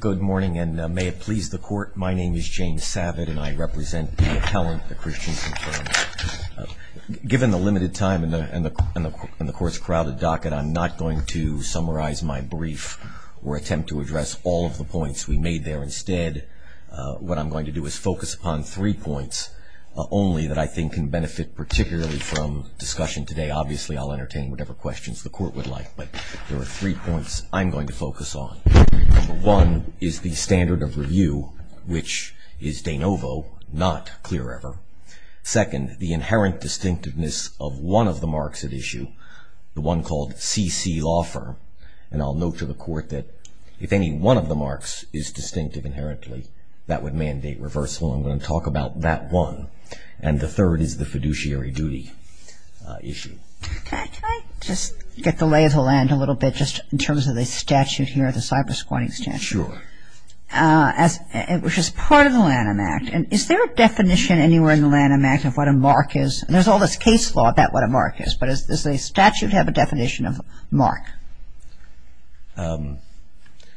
Good morning and may it please the court. My name is James Savitt and I represent the appellant, the Christiansen Firm. Given the limited time and the court's crowded docket, I'm not going to summarize my brief or attempt to address all of the points we made there. Instead, what I'm going to do is focus upon three points only that I think can benefit particularly from discussion today. Obviously, I'll entertain whatever questions the court would like, but there are three points I'm going to focus on. One is the standard of review, which is de novo, not clear ever. Second, the inherent distinctiveness of one of the marks at issue, the one called CC Law Firm. And I'll note to the court that if any one of the marks is distinctive inherently, that would mandate reversal. I'm going to talk about that one. And the third is the fiduciary duty issue. Can I just get the lay of the land a little bit just in terms of the statute here, the Cyber-Squatting Statute? Sure. Which is part of the Lanham Act. Is there a definition anywhere in the Lanham Act of what a mark is? There's all this case law about what a mark is, but does the statute have a definition of a mark?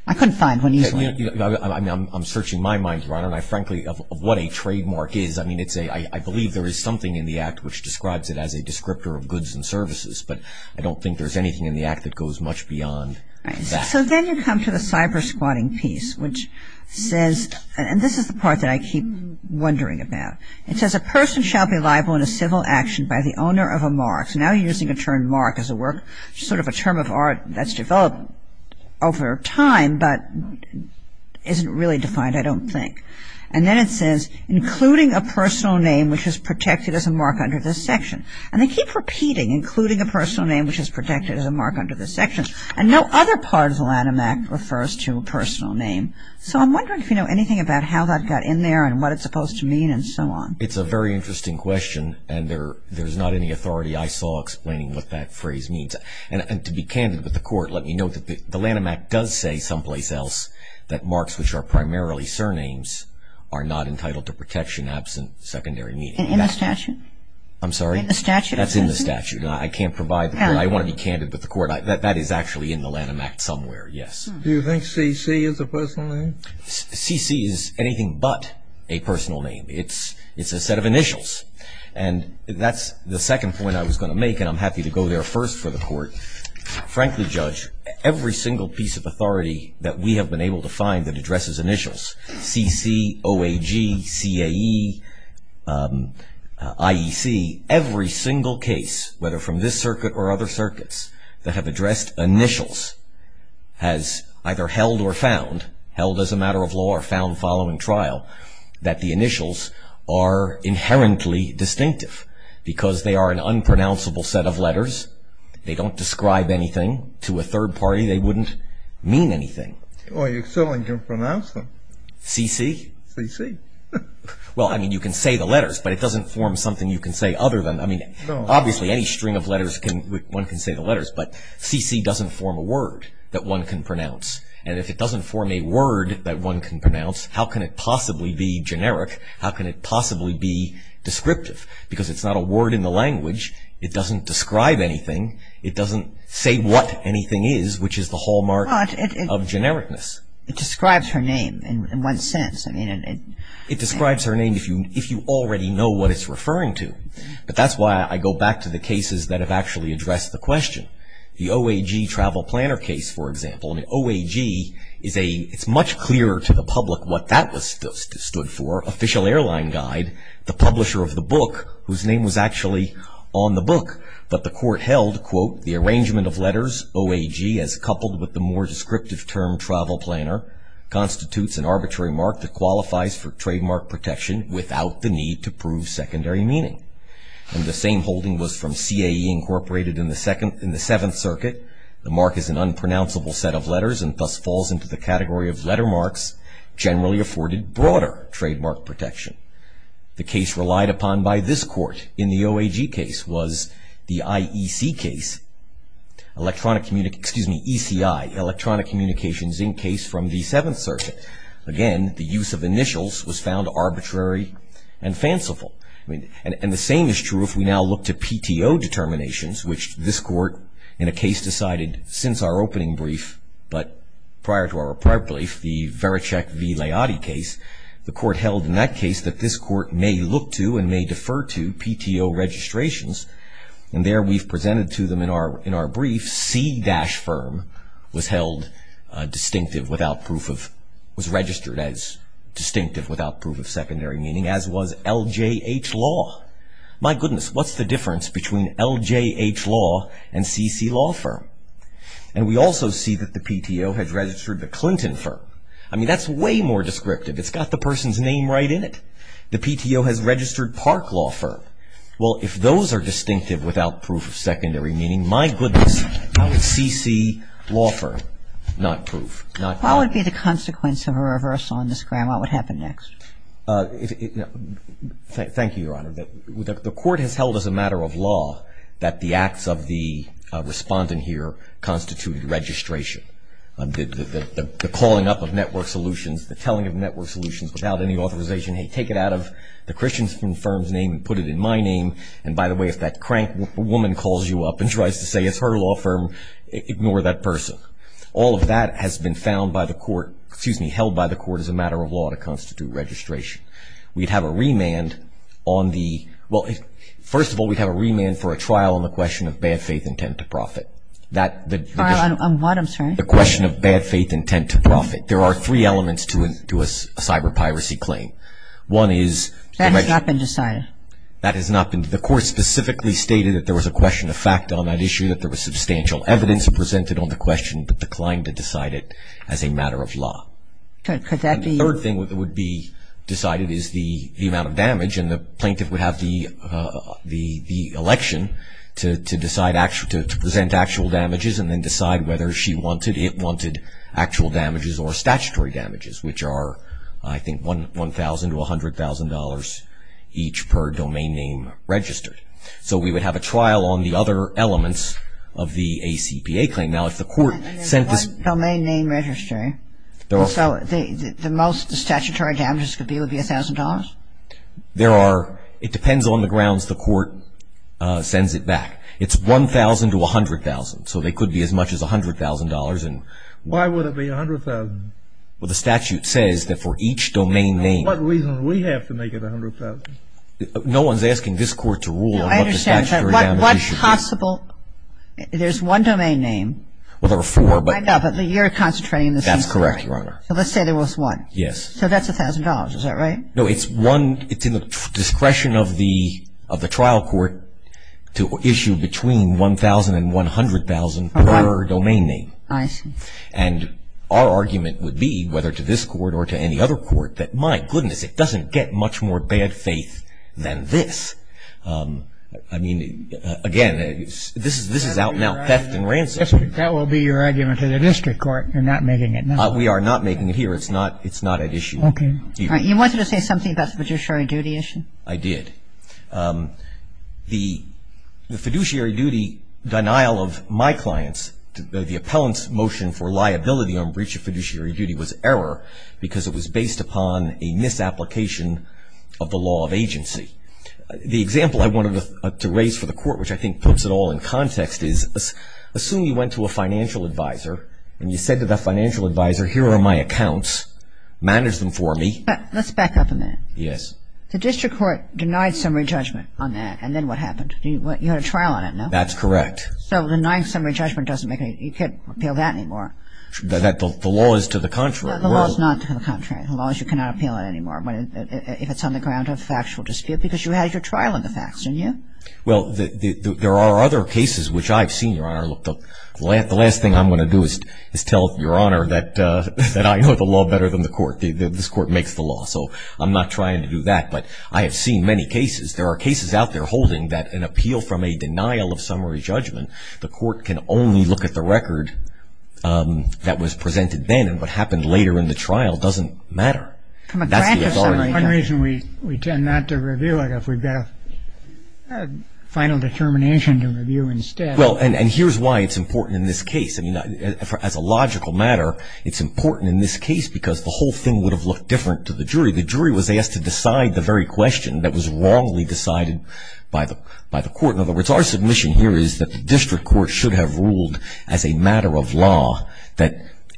I couldn't find one easily. I'm searching my mind, Your Honor, and I frankly, of what a trademark is. I mean, I believe there is something in the Act which describes it as a descriptor of goods and services, but I don't think there's anything in the Act that goes much beyond that. So then you come to the cyber-squatting piece, which says, and this is the part that I keep wondering about. It says, a person shall be liable in a civil action by the owner of a mark. So now you're using the term mark as a work, sort of a term of art that's developed over time, but isn't really defined, I don't think. And then it says, including a personal name which is protected as a mark under this section. And they keep repeating, including a personal name which is protected as a mark under this section, and no other part of the Lanham Act refers to a personal name. So I'm wondering if you know anything about how that got in there and what it's supposed to mean and so on. It's a very interesting question, and there's not any authority I saw explaining what that phrase means. And to be candid with the Court, let me note that the Lanham Act does say someplace else that marks which are primarily surnames are not entitled to protection absent secondary meaning. In the statute? I'm sorry? In the statute. That's in the statute. I can't provide, but I want to be candid with the Court. That is actually in the Lanham Act somewhere, yes. Do you think C.C. is a personal name? C.C. is anything but a personal name. It's a set of initials. And that's the second point I was going to make, and I'm happy to go there first for the Court. Frankly, Judge, every single piece of authority that we have been able to find that addresses initials, C.C., O.A.G., C.A.E., I.E.C., every single case, whether from this circuit or other circuits, that have addressed initials has either held or found, held as a matter of law or found following trial, that the initials are inherently distinctive because they are an unpronounceable set of letters. They don't describe anything to a third party. They wouldn't mean anything. Well, you certainly can pronounce them. C.C.? C.C. Well, I mean, you can say the letters, but it doesn't form something you can say other than, I mean, obviously any string of letters, one can say the letters, but C.C. doesn't form a word that one can pronounce. And if it doesn't form a word that one can pronounce, how can it possibly be generic? How can it possibly be descriptive? Because it's not a word in the language. It doesn't describe anything. It doesn't say what anything is, which is the hallmark of genericness. It describes her name in one sense. It describes her name if you already know what it's referring to. But that's why I go back to the cases that have actually addressed the question. The O.A.G. travel planner case, for example. I mean, O.A.G. is a, it's much clearer to the public what that was stood for. Official Airline Guide, the publisher of the book, whose name was actually on the book, but the court held, quote, The arrangement of letters, O.A.G., as coupled with the more descriptive term travel planner, constitutes an arbitrary mark that qualifies for trademark protection without the need to prove secondary meaning. And the same holding was from C.A.E. Incorporated in the Seventh Circuit. The mark is an unpronounceable set of letters and thus falls into the category of letter marks generally afforded broader trademark protection. The case relied upon by this court in the O.A.G. case was the I.E.C. case. Electronic, excuse me, E.C.I., Electronic Communications Inc. case from the Seventh Circuit. Again, the use of initials was found arbitrary and fanciful. And the same is true if we now look to P.T.O. determinations, which this court in a case decided since our opening brief, but prior to our brief, the Veracek v. Laiati case, the court held in that case that this court may look to and may defer to P.T.O. registrations. And there we've presented to them in our brief, C- firm was held distinctive without proof of, was registered as distinctive without proof of secondary meaning, as was L.J.H. Law. My goodness, what's the difference between L.J.H. Law and C.C. Law firm? And we also see that the P.T.O. has registered the Clinton firm. I mean, that's way more descriptive. It's got the person's name right in it. The P.T.O. has registered Park Law firm. Well, if those are distinctive without proof of secondary meaning, my goodness, how could C.C. Law firm not prove? Not prove. What would be the consequence of a reversal on this ground? What would happen next? Thank you, Your Honor. The court has held as a matter of law that the acts of the respondent here constitute registration. The calling up of network solutions, the telling of network solutions without any authorization, hey, take it out of the Christian firm's name and put it in my name, and by the way, if that crank woman calls you up and tries to say it's her law firm, ignore that person. All of that has been found by the court, excuse me, held by the court as a matter of law to constitute registration. We'd have a remand on the – well, first of all, we'd have a remand for a trial on the question of bad faith intent to profit. Trial on what, I'm sorry? The question of bad faith intent to profit. There are three elements to a cyber piracy claim. One is – That has not been decided. That has not been – the court specifically stated that there was a question of fact on that issue, that there was substantial evidence presented on the question, but declined to decide it as a matter of law. Could that be – The third thing that would be decided is the amount of damage, and the plaintiff would have the election to decide – to present actual damages and then decide whether she wanted – it wanted actual damages or statutory damages, which are, I think, $1,000 to $100,000 each per domain name registered. So we would have a trial on the other elements of the ACPA claim. Now, if the court sent this – There are – it depends on the grounds the court sends it back. It's $1,000 to $100,000, so they could be as much as $100,000. Why would it be $100,000? Well, the statute says that for each domain name – What reason do we have to make it $100,000? No one's asking this court to rule on what the statutory damages should be. I understand. What possible – there's one domain name. Well, there are four, but – I know, but you're concentrating on the same domain. That's correct, Your Honor. So let's say there was one. Yes. So that's $1,000, is that right? No, it's one – it's in the discretion of the trial court to issue between $1,000 and $100,000 per domain name. I see. And our argument would be, whether to this court or to any other court, that my goodness, it doesn't get much more bad faith than this. I mean, again, this is out now theft and ransom. That will be your argument to the district court. You're not making it now. We are not making it here. It's not at issue. Okay. You wanted to say something about the fiduciary duty issue? I did. The fiduciary duty denial of my clients, the appellant's motion for liability on breach of fiduciary duty, was error because it was based upon a misapplication of the law of agency. The example I wanted to raise for the court, which I think puts it all in context, is assume you went to a financial advisor and you said to that financial advisor, here are my accounts, manage them for me. Let's back up a minute. Yes. The district court denied summary judgment on that, and then what happened? You had a trial on it, no? That's correct. So denying summary judgment doesn't make any – you can't appeal that anymore? The law is to the contrary. No, the law is not to the contrary. The law is you cannot appeal it anymore if it's on the ground of factual dispute because you had your trial on the facts, didn't you? Well, there are other cases which I've seen, Your Honor. The last thing I'm going to do is tell Your Honor that I know the law better than the court. This court makes the law, so I'm not trying to do that. But I have seen many cases. There are cases out there holding that an appeal from a denial of summary judgment, the court can only look at the record that was presented then, and what happened later in the trial doesn't matter. One reason we tend not to review it if we've got a final determination to review instead. Well, and here's why it's important in this case. I mean, as a logical matter, it's important in this case because the whole thing would have looked different to the jury. The jury was asked to decide the very question that was wrongly decided by the court. In other words, our submission here is that the district court should have ruled as a matter of law that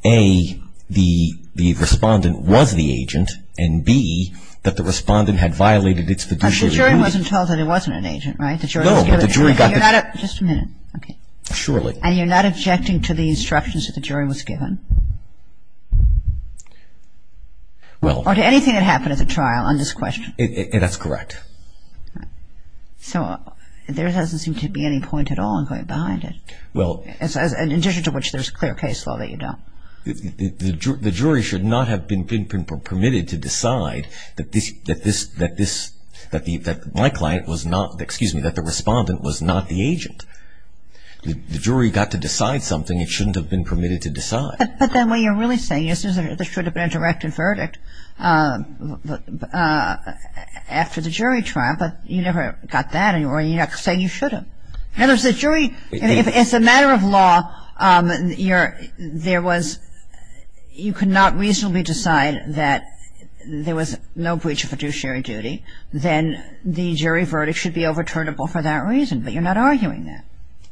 A, the respondent was the agent, and B, that the respondent had violated its fiduciary duty. But the jury wasn't told that it wasn't an agent, right? No, but the jury got the... Just a minute. Okay. Surely. And you're not objecting to the instructions that the jury was given? Well... Or to anything that happened at the trial on this question? That's correct. So there doesn't seem to be any point at all in going behind it. Well... In addition to which, there's a clear case law that you don't. The jury should not have been permitted to decide that my client was not, excuse me, that the respondent was not the agent. The jury got to decide something it shouldn't have been permitted to decide. But then what you're really saying is there should have been a direct verdict after the jury trial, but you never got that, and you're not saying you should have. In other words, the jury, as a matter of law, you're, there was, you could not reasonably decide that there was no breach of fiduciary duty. Then the jury verdict should be overturnable for that reason, but you're not arguing that.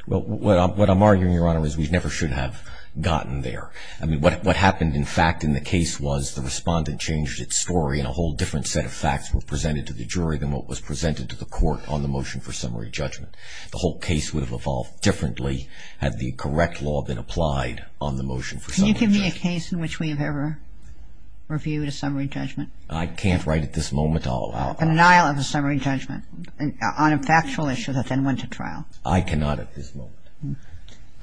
Well, what I'm arguing, Your Honor, is we never should have gotten there. I mean, what happened, in fact, in the case was the respondent changed its story and a whole different set of facts were presented to the jury than what was presented to the court on the motion for summary judgment. The whole case would have evolved differently had the correct law been applied on the motion for summary judgment. Can you give me a case in which we have ever reviewed a summary judgment? I can't right at this moment. A denial of a summary judgment on a factual issue that then went to trial. I cannot at this moment.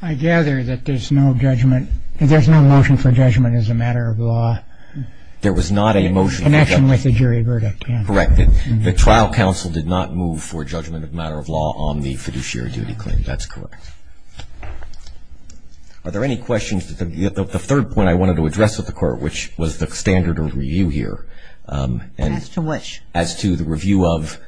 I gather that there's no judgment, there's no motion for judgment as a matter of law. There was not a motion for judgment. Connection with the jury verdict, yeah. Correct. The trial counsel did not move for judgment of matter of law on the fiduciary duty claim. That's correct. Are there any questions? The third point I wanted to address with the Court, which was the standard of review here. As to which? As to the review of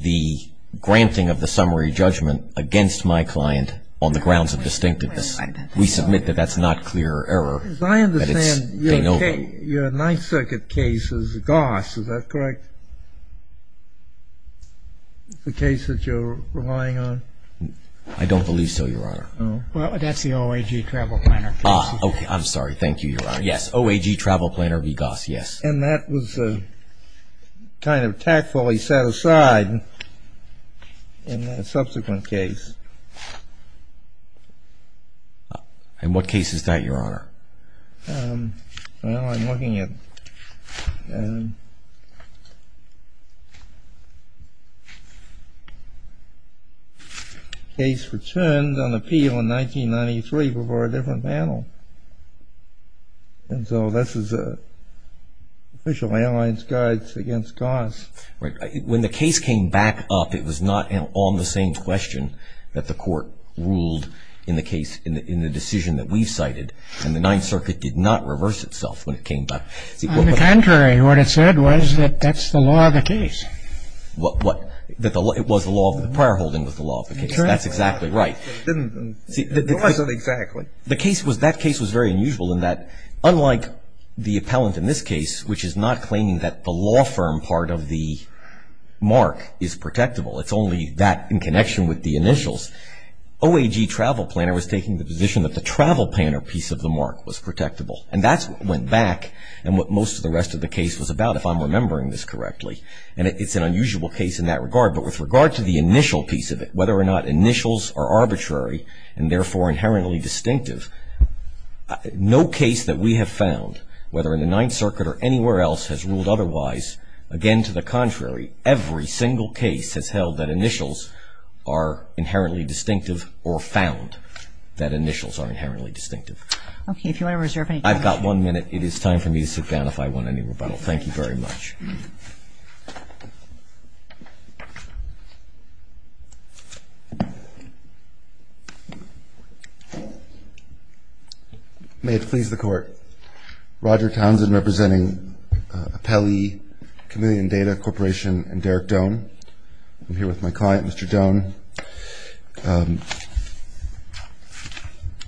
the granting of the summary judgment against my client on the grounds of distinctiveness. We submit that that's not clear error. As I understand, your Ninth Circuit case is Goss, is that correct? The case that you're relying on? I don't believe so, Your Honor. Well, that's the OAG Travel Planner case. I'm sorry, thank you, Your Honor. Yes, OAG Travel Planner v. Goss, yes. And that was kind of tactfully set aside in the subsequent case. In what case is that, Your Honor? Well, I'm looking at a case returned on appeal in 1993 before a different panel. And so this is an official Alliance Guides against Goss. When the case came back up, it was not on the same question that the Court ruled in the decision that we've cited. And the Ninth Circuit did not reverse itself when it came back. On the contrary, what it said was that that's the law of the case. What? That it was the law of the prior holding was the law of the case. That's exactly right. It wasn't exactly. The case was, that case was very unusual in that unlike the appellant in this case, which is not claiming that the law firm part of the mark is protectable, it's only that in connection with the initials, the OAG travel planner was taking the position that the travel planner piece of the mark was protectable. And that's what went back and what most of the rest of the case was about, if I'm remembering this correctly. And it's an unusual case in that regard. But with regard to the initial piece of it, whether or not initials are arbitrary and therefore inherently distinctive, no case that we have found, whether in the Ninth Circuit or anywhere else, has ruled otherwise. Again, to the contrary, every single case has held that initials are inherently distinctive or found that initials are inherently distinctive. Okay. If you want to reserve any time. I've got one minute. It is time for me to sit down if I want any rebuttal. Thank you very much. May it please the Court. Roger Townsend representing Apelli Chameleon Data Corporation and Derek Doan. I'm here with my client, Mr. Doan.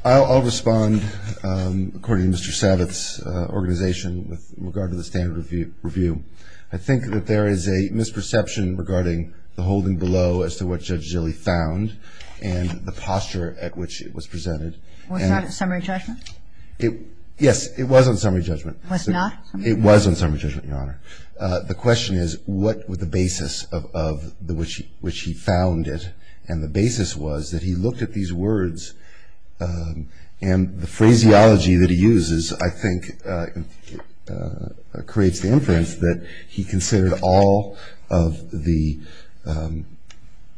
I'll respond according to Mr. Savitz's organization with regard to the standard review. I think that there is a misperception regarding the holding below as to what Judge Zille found and the posture at which it was presented. Was that a summary judgment? Yes, it was on summary judgment. Was not? It was on summary judgment, Your Honor. The question is what was the basis of which he found it. And the basis was that he looked at these words and the phraseology that he uses, I think, creates the inference that he considered all of the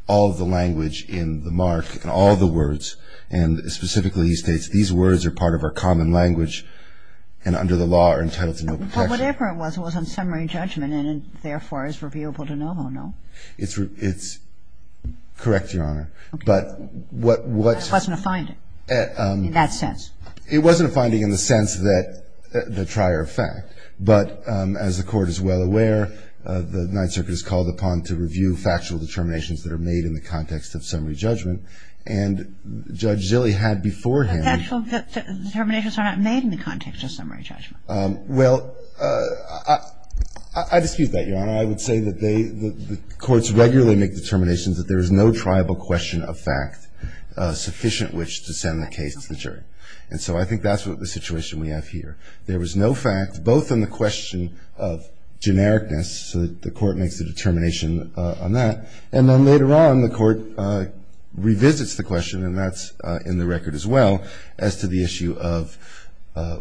language in the mark, all of the words, and specifically he states these words are part of our common language and under the law are entitled to no protection. But whatever it was, it was on summary judgment and therefore is reviewable to no one, no? It's correct, Your Honor. Okay. But what was... It wasn't a finding in that sense. It wasn't a finding in the sense that the trier of fact. But as the Court is well aware, the Ninth Circuit is called upon to review factual determinations that are made in the context of summary judgment. And Judge Zille had beforehand... But the actual determinations are not made in the context of summary judgment. Well, I dispute that, Your Honor. I would say that the courts regularly make determinations that there is no triable question of fact sufficient which to send the case to the jury. And so I think that's the situation we have here. There was no fact both in the question of genericness, so the Court makes a determination on that, and then later on the Court revisits the question, and that's in the record as well, as to the issue of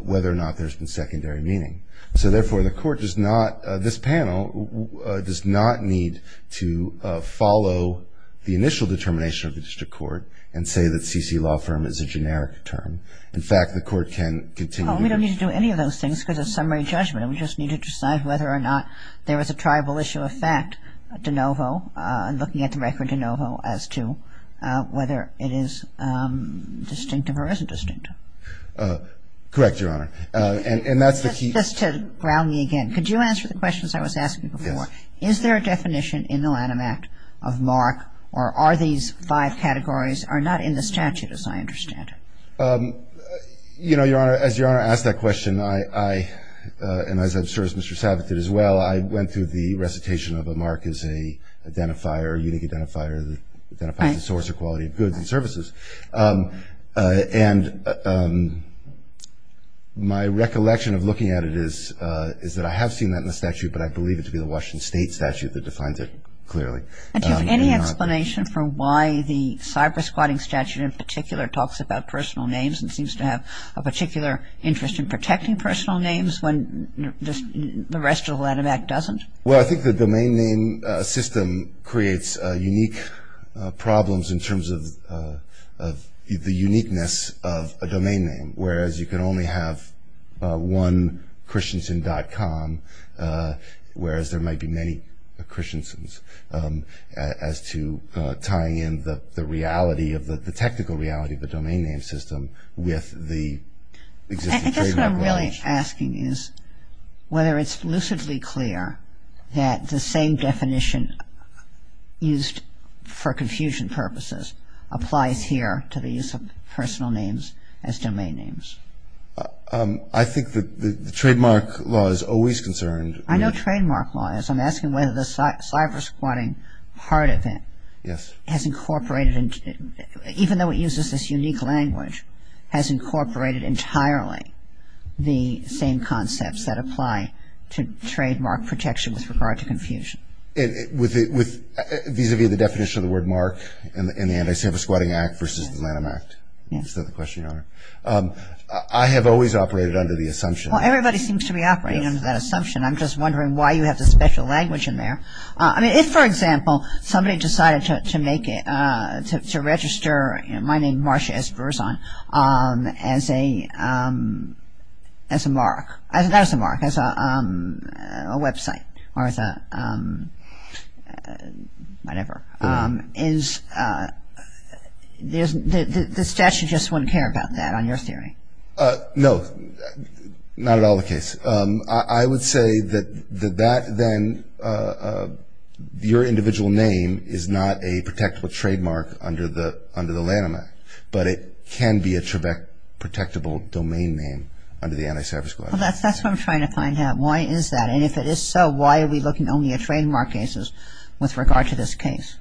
whether or not there's been secondary meaning. So therefore the Court does not, this panel does not need to follow the initial determination of the district court and say that CC law firm is a generic term. In fact, the Court can continue... Well, we don't need to do any of those things because it's summary judgment. We just need to decide whether or not there was a triable issue of fact de novo and looking at the record de novo as to whether it is distinctive or isn't distinctive. Correct, Your Honor. And that's the key... Just to ground me again. Could you answer the questions I was asking before? Yes. Is there a definition in the Lanham Act of mark or are these five categories are not in the statute as I understand it? You know, Your Honor, as Your Honor asked that question, I, and as I'm sure as Mr. Identifier, unique identifier that identifies the source or quality of goods and services. And my recollection of looking at it is that I have seen that in the statute, but I believe it to be the Washington State statute that defines it clearly. And do you have any explanation for why the cyber squatting statute in particular talks about personal names and seems to have a particular interest in protecting personal names when just the rest of the Lanham Act doesn't? Well, I think the domain name system creates unique problems in terms of the uniqueness of a domain name, whereas you can only have one christianson.com, whereas there might be many christiansons, as to tying in the reality of the technical reality of the domain name system with the... What I'm really asking is whether it's lucidly clear that the same definition used for confusion purposes applies here to the use of personal names as domain names. I think that the trademark law is always concerned... I know trademark law is. I'm asking whether the cyber squatting part of it... Yes. ...has incorporated, even though it uses this unique language, has incorporated entirely the same concepts that apply to trademark protection with regard to confusion. Vis-à-vis the definition of the word mark in the Anti-Cyber Squatting Act versus the Lanham Act. Is that the question, Your Honor? Yes. I have always operated under the assumption... Well, everybody seems to be operating under that assumption. I'm just wondering why you have the special language in there. I mean, if, for example, somebody decided to make it... to register my name, Marsha, as Verzon, as a mark... not as a mark, as a website, or as a whatever, is... the statute just wouldn't care about that, on your theory? No, not at all the case. I would say that that then... your individual name is not a protectable trademark under the Lanham Act, but it can be a protectable domain name under the Anti-Cyber Squatting Act. Well, that's what I'm trying to find out. Why is that? And if it is so, why are we looking only at trademark cases with regard to this case?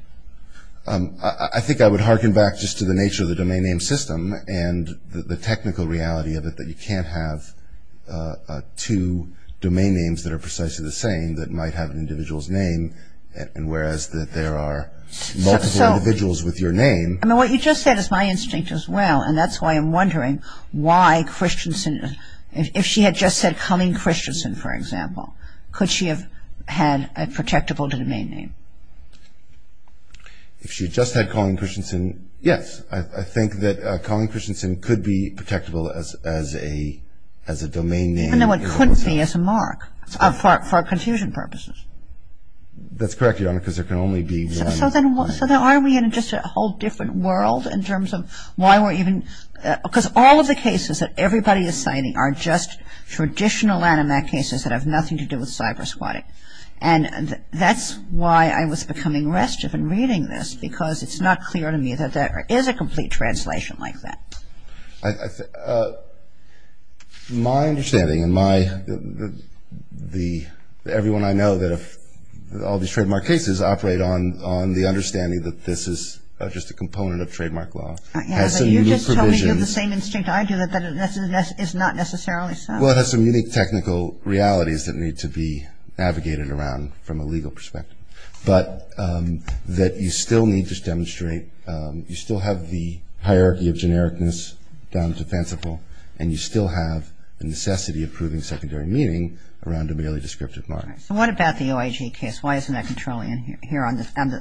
I think I would hearken back just to the nature of the domain name system and the technical reality of it, that you can't have two domain names that are precisely the same that might have an individual's name, and whereas there are multiple individuals with your name... I mean, what you just said is my instinct as well, and that's why I'm wondering why Christensen... if she had just said Colleen Christensen, for example, could she have had a protectable domain name? If she had just had Colleen Christensen, yes. I think that Colleen Christensen could be protectable as a domain name. Even though it could be as a mark, for confusion purposes. That's correct, Your Honor, because there can only be one... So then aren't we in just a whole different world in terms of why we're even... because all of the cases that everybody is citing are just traditional Lanham Act cases that have nothing to do with cyber squatting, and that's why I was becoming restive in reading this, because it's not clear to me that there is a complete translation like that. My understanding, and everyone I know, that all these trademark cases operate on the understanding that this is just a component of trademark law. You're just telling me you have the same instinct I do, that it's not necessarily so. Well, it has some unique technical realities that need to be navigated around from a legal perspective, but that you still need to demonstrate, you still have the hierarchy of genericness down to fanciful, and you still have the necessity of proving secondary meaning around a merely descriptive mark. So what about the OIG case? Why isn't that controlling here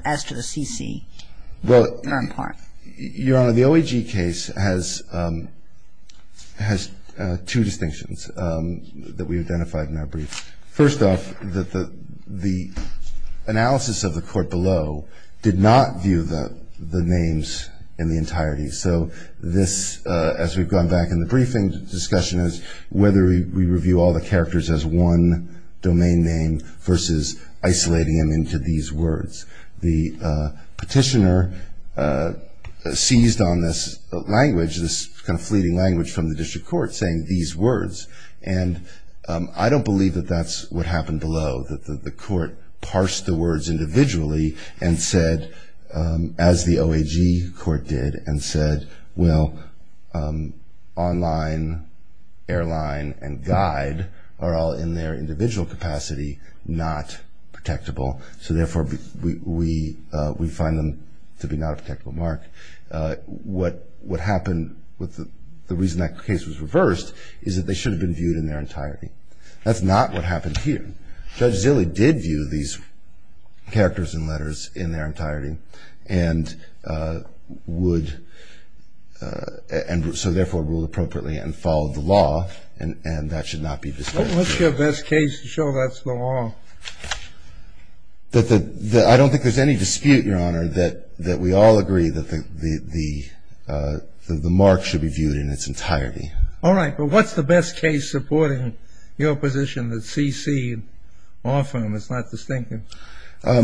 as to the CC, or in part? Your Honor, the OIG case has two distinctions that we identified in that brief. First off, the analysis of the court below did not view the names in the entirety. So this, as we've gone back in the briefing discussion, is whether we review all the characters as one domain name versus isolating them into these words. The petitioner seized on this language, this kind of fleeting language from the district court saying these words, and I don't believe that that's what happened below, that the court parsed the words individually and said, as the OIG court did, and said, well, online, airline, and guide are all in their individual capacity not protectable. So therefore, we find them to be not a protectable mark. What happened, the reason that case was reversed is that they should have been viewed in their entirety. That's not what happened here. Judge Zille did view these characters and letters in their entirety and would therefore rule appropriately and follow the law, and that should not be disputed. What's your best case to show that's the law? I don't think there's any dispute, Your Honor, that we all agree that the mark should be viewed in its entirety. All right. But what's the best case supporting your position that CC often was not distinctive? Your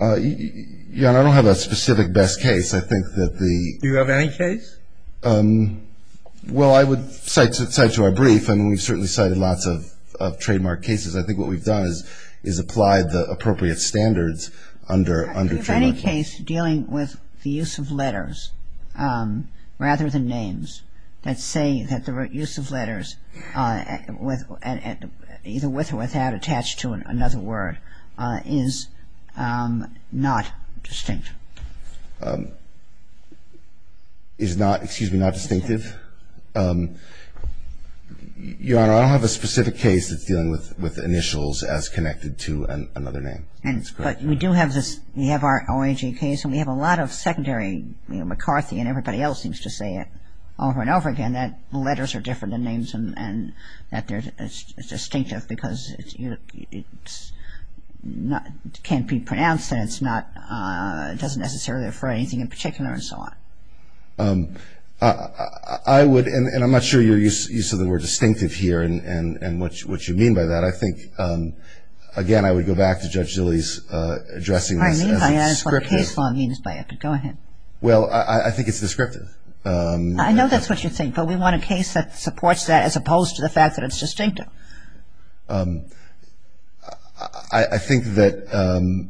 Honor, I don't have a specific best case. I think that the – Do you have any case? Well, I would cite to our brief, and we've certainly cited lots of trademark cases. I think what we've done is applied the appropriate standards under trademark laws. Is there a case dealing with the use of letters rather than names that say that the use of letters either with or without attached to another word is not distinct? Is not – excuse me – not distinctive? Your Honor, I don't have a specific case that's dealing with initials as connected to another name. But we do have this – we have our OIG case, and we have a lot of secondary – McCarthy and everybody else seems to say it over and over again that letters are different than names and that it's distinctive because it can't be pronounced and it's not – it doesn't necessarily refer to anything in particular and so on. I would – and I'm not sure you're used to the word distinctive here and what you mean by that. But I think, again, I would go back to Judge Zille's addressing this as descriptive. I mean by that is what case law means by it, but go ahead. Well, I think it's descriptive. I know that's what you think, but we want a case that supports that as opposed to the fact that it's distinctive. I think that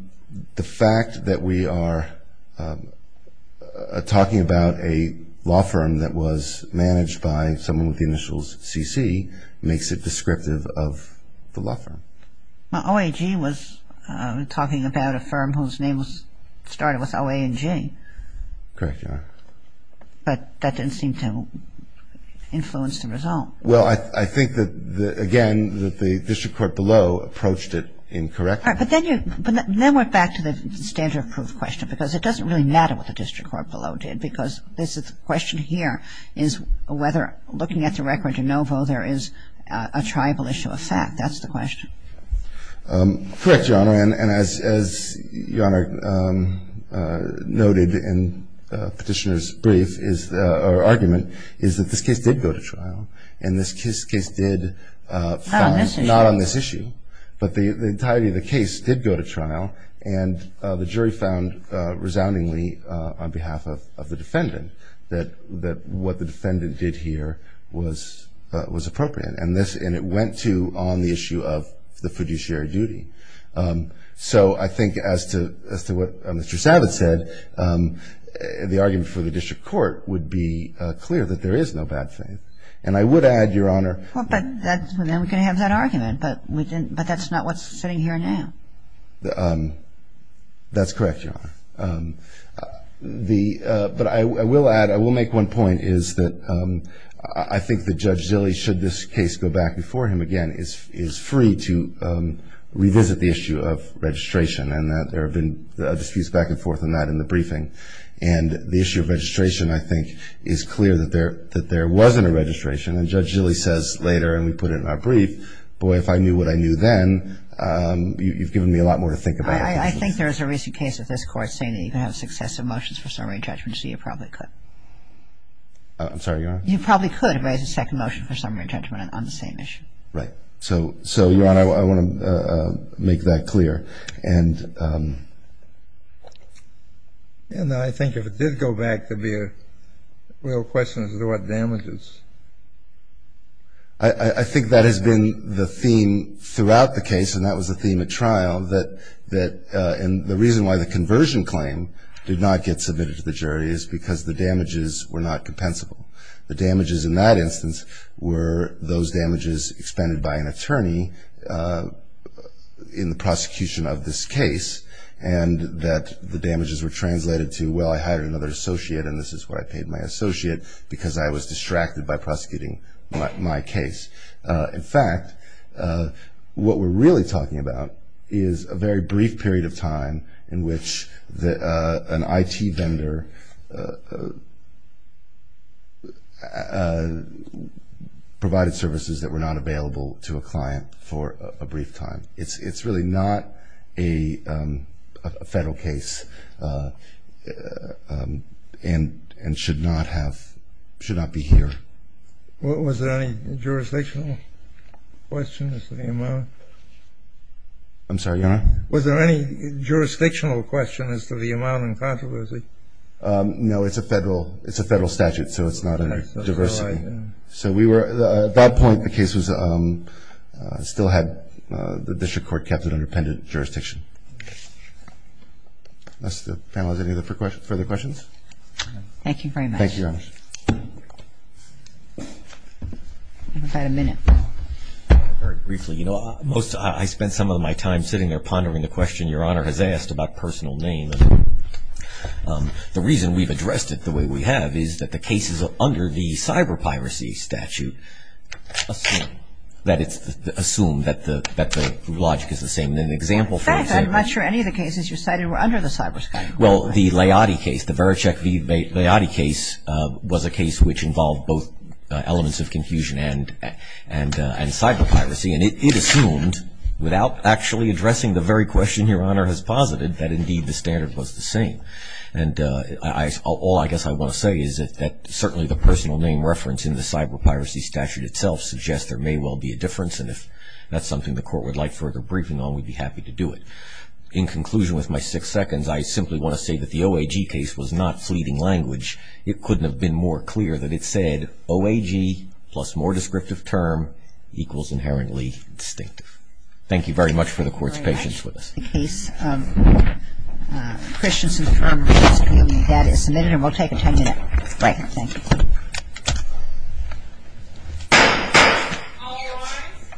the fact that we are talking about a law firm that was managed by someone with the initials CC makes it descriptive of the law firm. Well, OIG was talking about a firm whose name started with O-A-N-G. Correct, Your Honor. But that didn't seem to influence the result. Well, I think that, again, that the district court below approached it incorrectly. But then you – but then we're back to the standard proof question because it doesn't really matter what the district court below did because the question here is whether looking at the record de novo there is a tribal issue of fact. That's the question. Correct, Your Honor. And as Your Honor noted in Petitioner's brief or argument is that this case did go to trial and this case did found not on this issue, but the entirety of the case did go to trial and the jury found resoundingly on behalf of the defendant that what the defendant did here was appropriate. And it went to on the issue of the fiduciary duty. So I think as to what Mr. Savitz said, the argument for the district court would be clear that there is no bad faith. And I would add, Your Honor – Well, but then we can have that argument. But that's not what's sitting here now. That's correct, Your Honor. But I will add – I will make one point is that I think that Judge Zille, should this case go back before him again, is free to revisit the issue of registration and that there have been disputes back and forth on that in the briefing. And the issue of registration, I think, is clear that there wasn't a registration. And Judge Zille says later, and we put it in our brief, boy, if I knew what I knew then, you've given me a lot more to think about. I think there was a recent case of this Court saying that you can have successive motions for summary judgment, so you probably could. I'm sorry, Your Honor? You probably could raise a second motion for summary judgment on the same issue. Right. So, Your Honor, I want to make that clear. And I think if it did go back, there would be a real question as to what damages. I think that has been the theme throughout the case, and that was the theme at trial, that – and the reason why the conversion claim did not get submitted to the jury is because the damages were not compensable. The damages in that instance were those damages expended by an attorney in the prosecution of this case, and that the damages were translated to, well, I hired another associate and this is what I paid my associate because I was distracted by prosecuting my case. In fact, what we're really talking about is a very brief period of time in which an IT vendor provided services that were not available to a client for a brief time. It's really not a federal case and should not have – should not be here. Was there any jurisdictional question as to the amount? I'm sorry, Your Honor? Was there any jurisdictional question as to the amount in controversy? No, it's a federal statute, so it's not under diversity. Okay. So we were – at that point the case was – still had the district court kept it under pendent jurisdiction. Unless the panel has any further questions? Thank you very much. Thank you, Your Honor. We've got a minute. Very briefly, you know, most – I spent some of my time sitting there pondering the question Your Honor has asked about personal name. The reason we've addressed it the way we have is that the cases under the cyberpiracy statute assume that it's – assume that the logic is the same. And an example for example – In fact, I'm not sure any of the cases you cited were under the cyber – Well, the Laoti case, the Verochek v. Laoti case was a case which involved both elements of confusion and cyberpiracy. And it assumed, without actually addressing the very question Your Honor has posited, that indeed the standard was the same. And I – all I guess I want to say is that certainly the personal name reference in the cyberpiracy statute itself suggests there may well be a difference, and if that's something the court would like further briefing on, we'd be happy to do it. In conclusion with my six seconds, I simply want to say that the OAG case was not fleeting language. It couldn't have been more clear that it said, OAG plus more descriptive term equals inherently distinctive. Thank you very much for the court's patience with us. The case of Christianson v. Farnley is appealed, and that is submitted, and we'll take a 10-minute break. Thank you.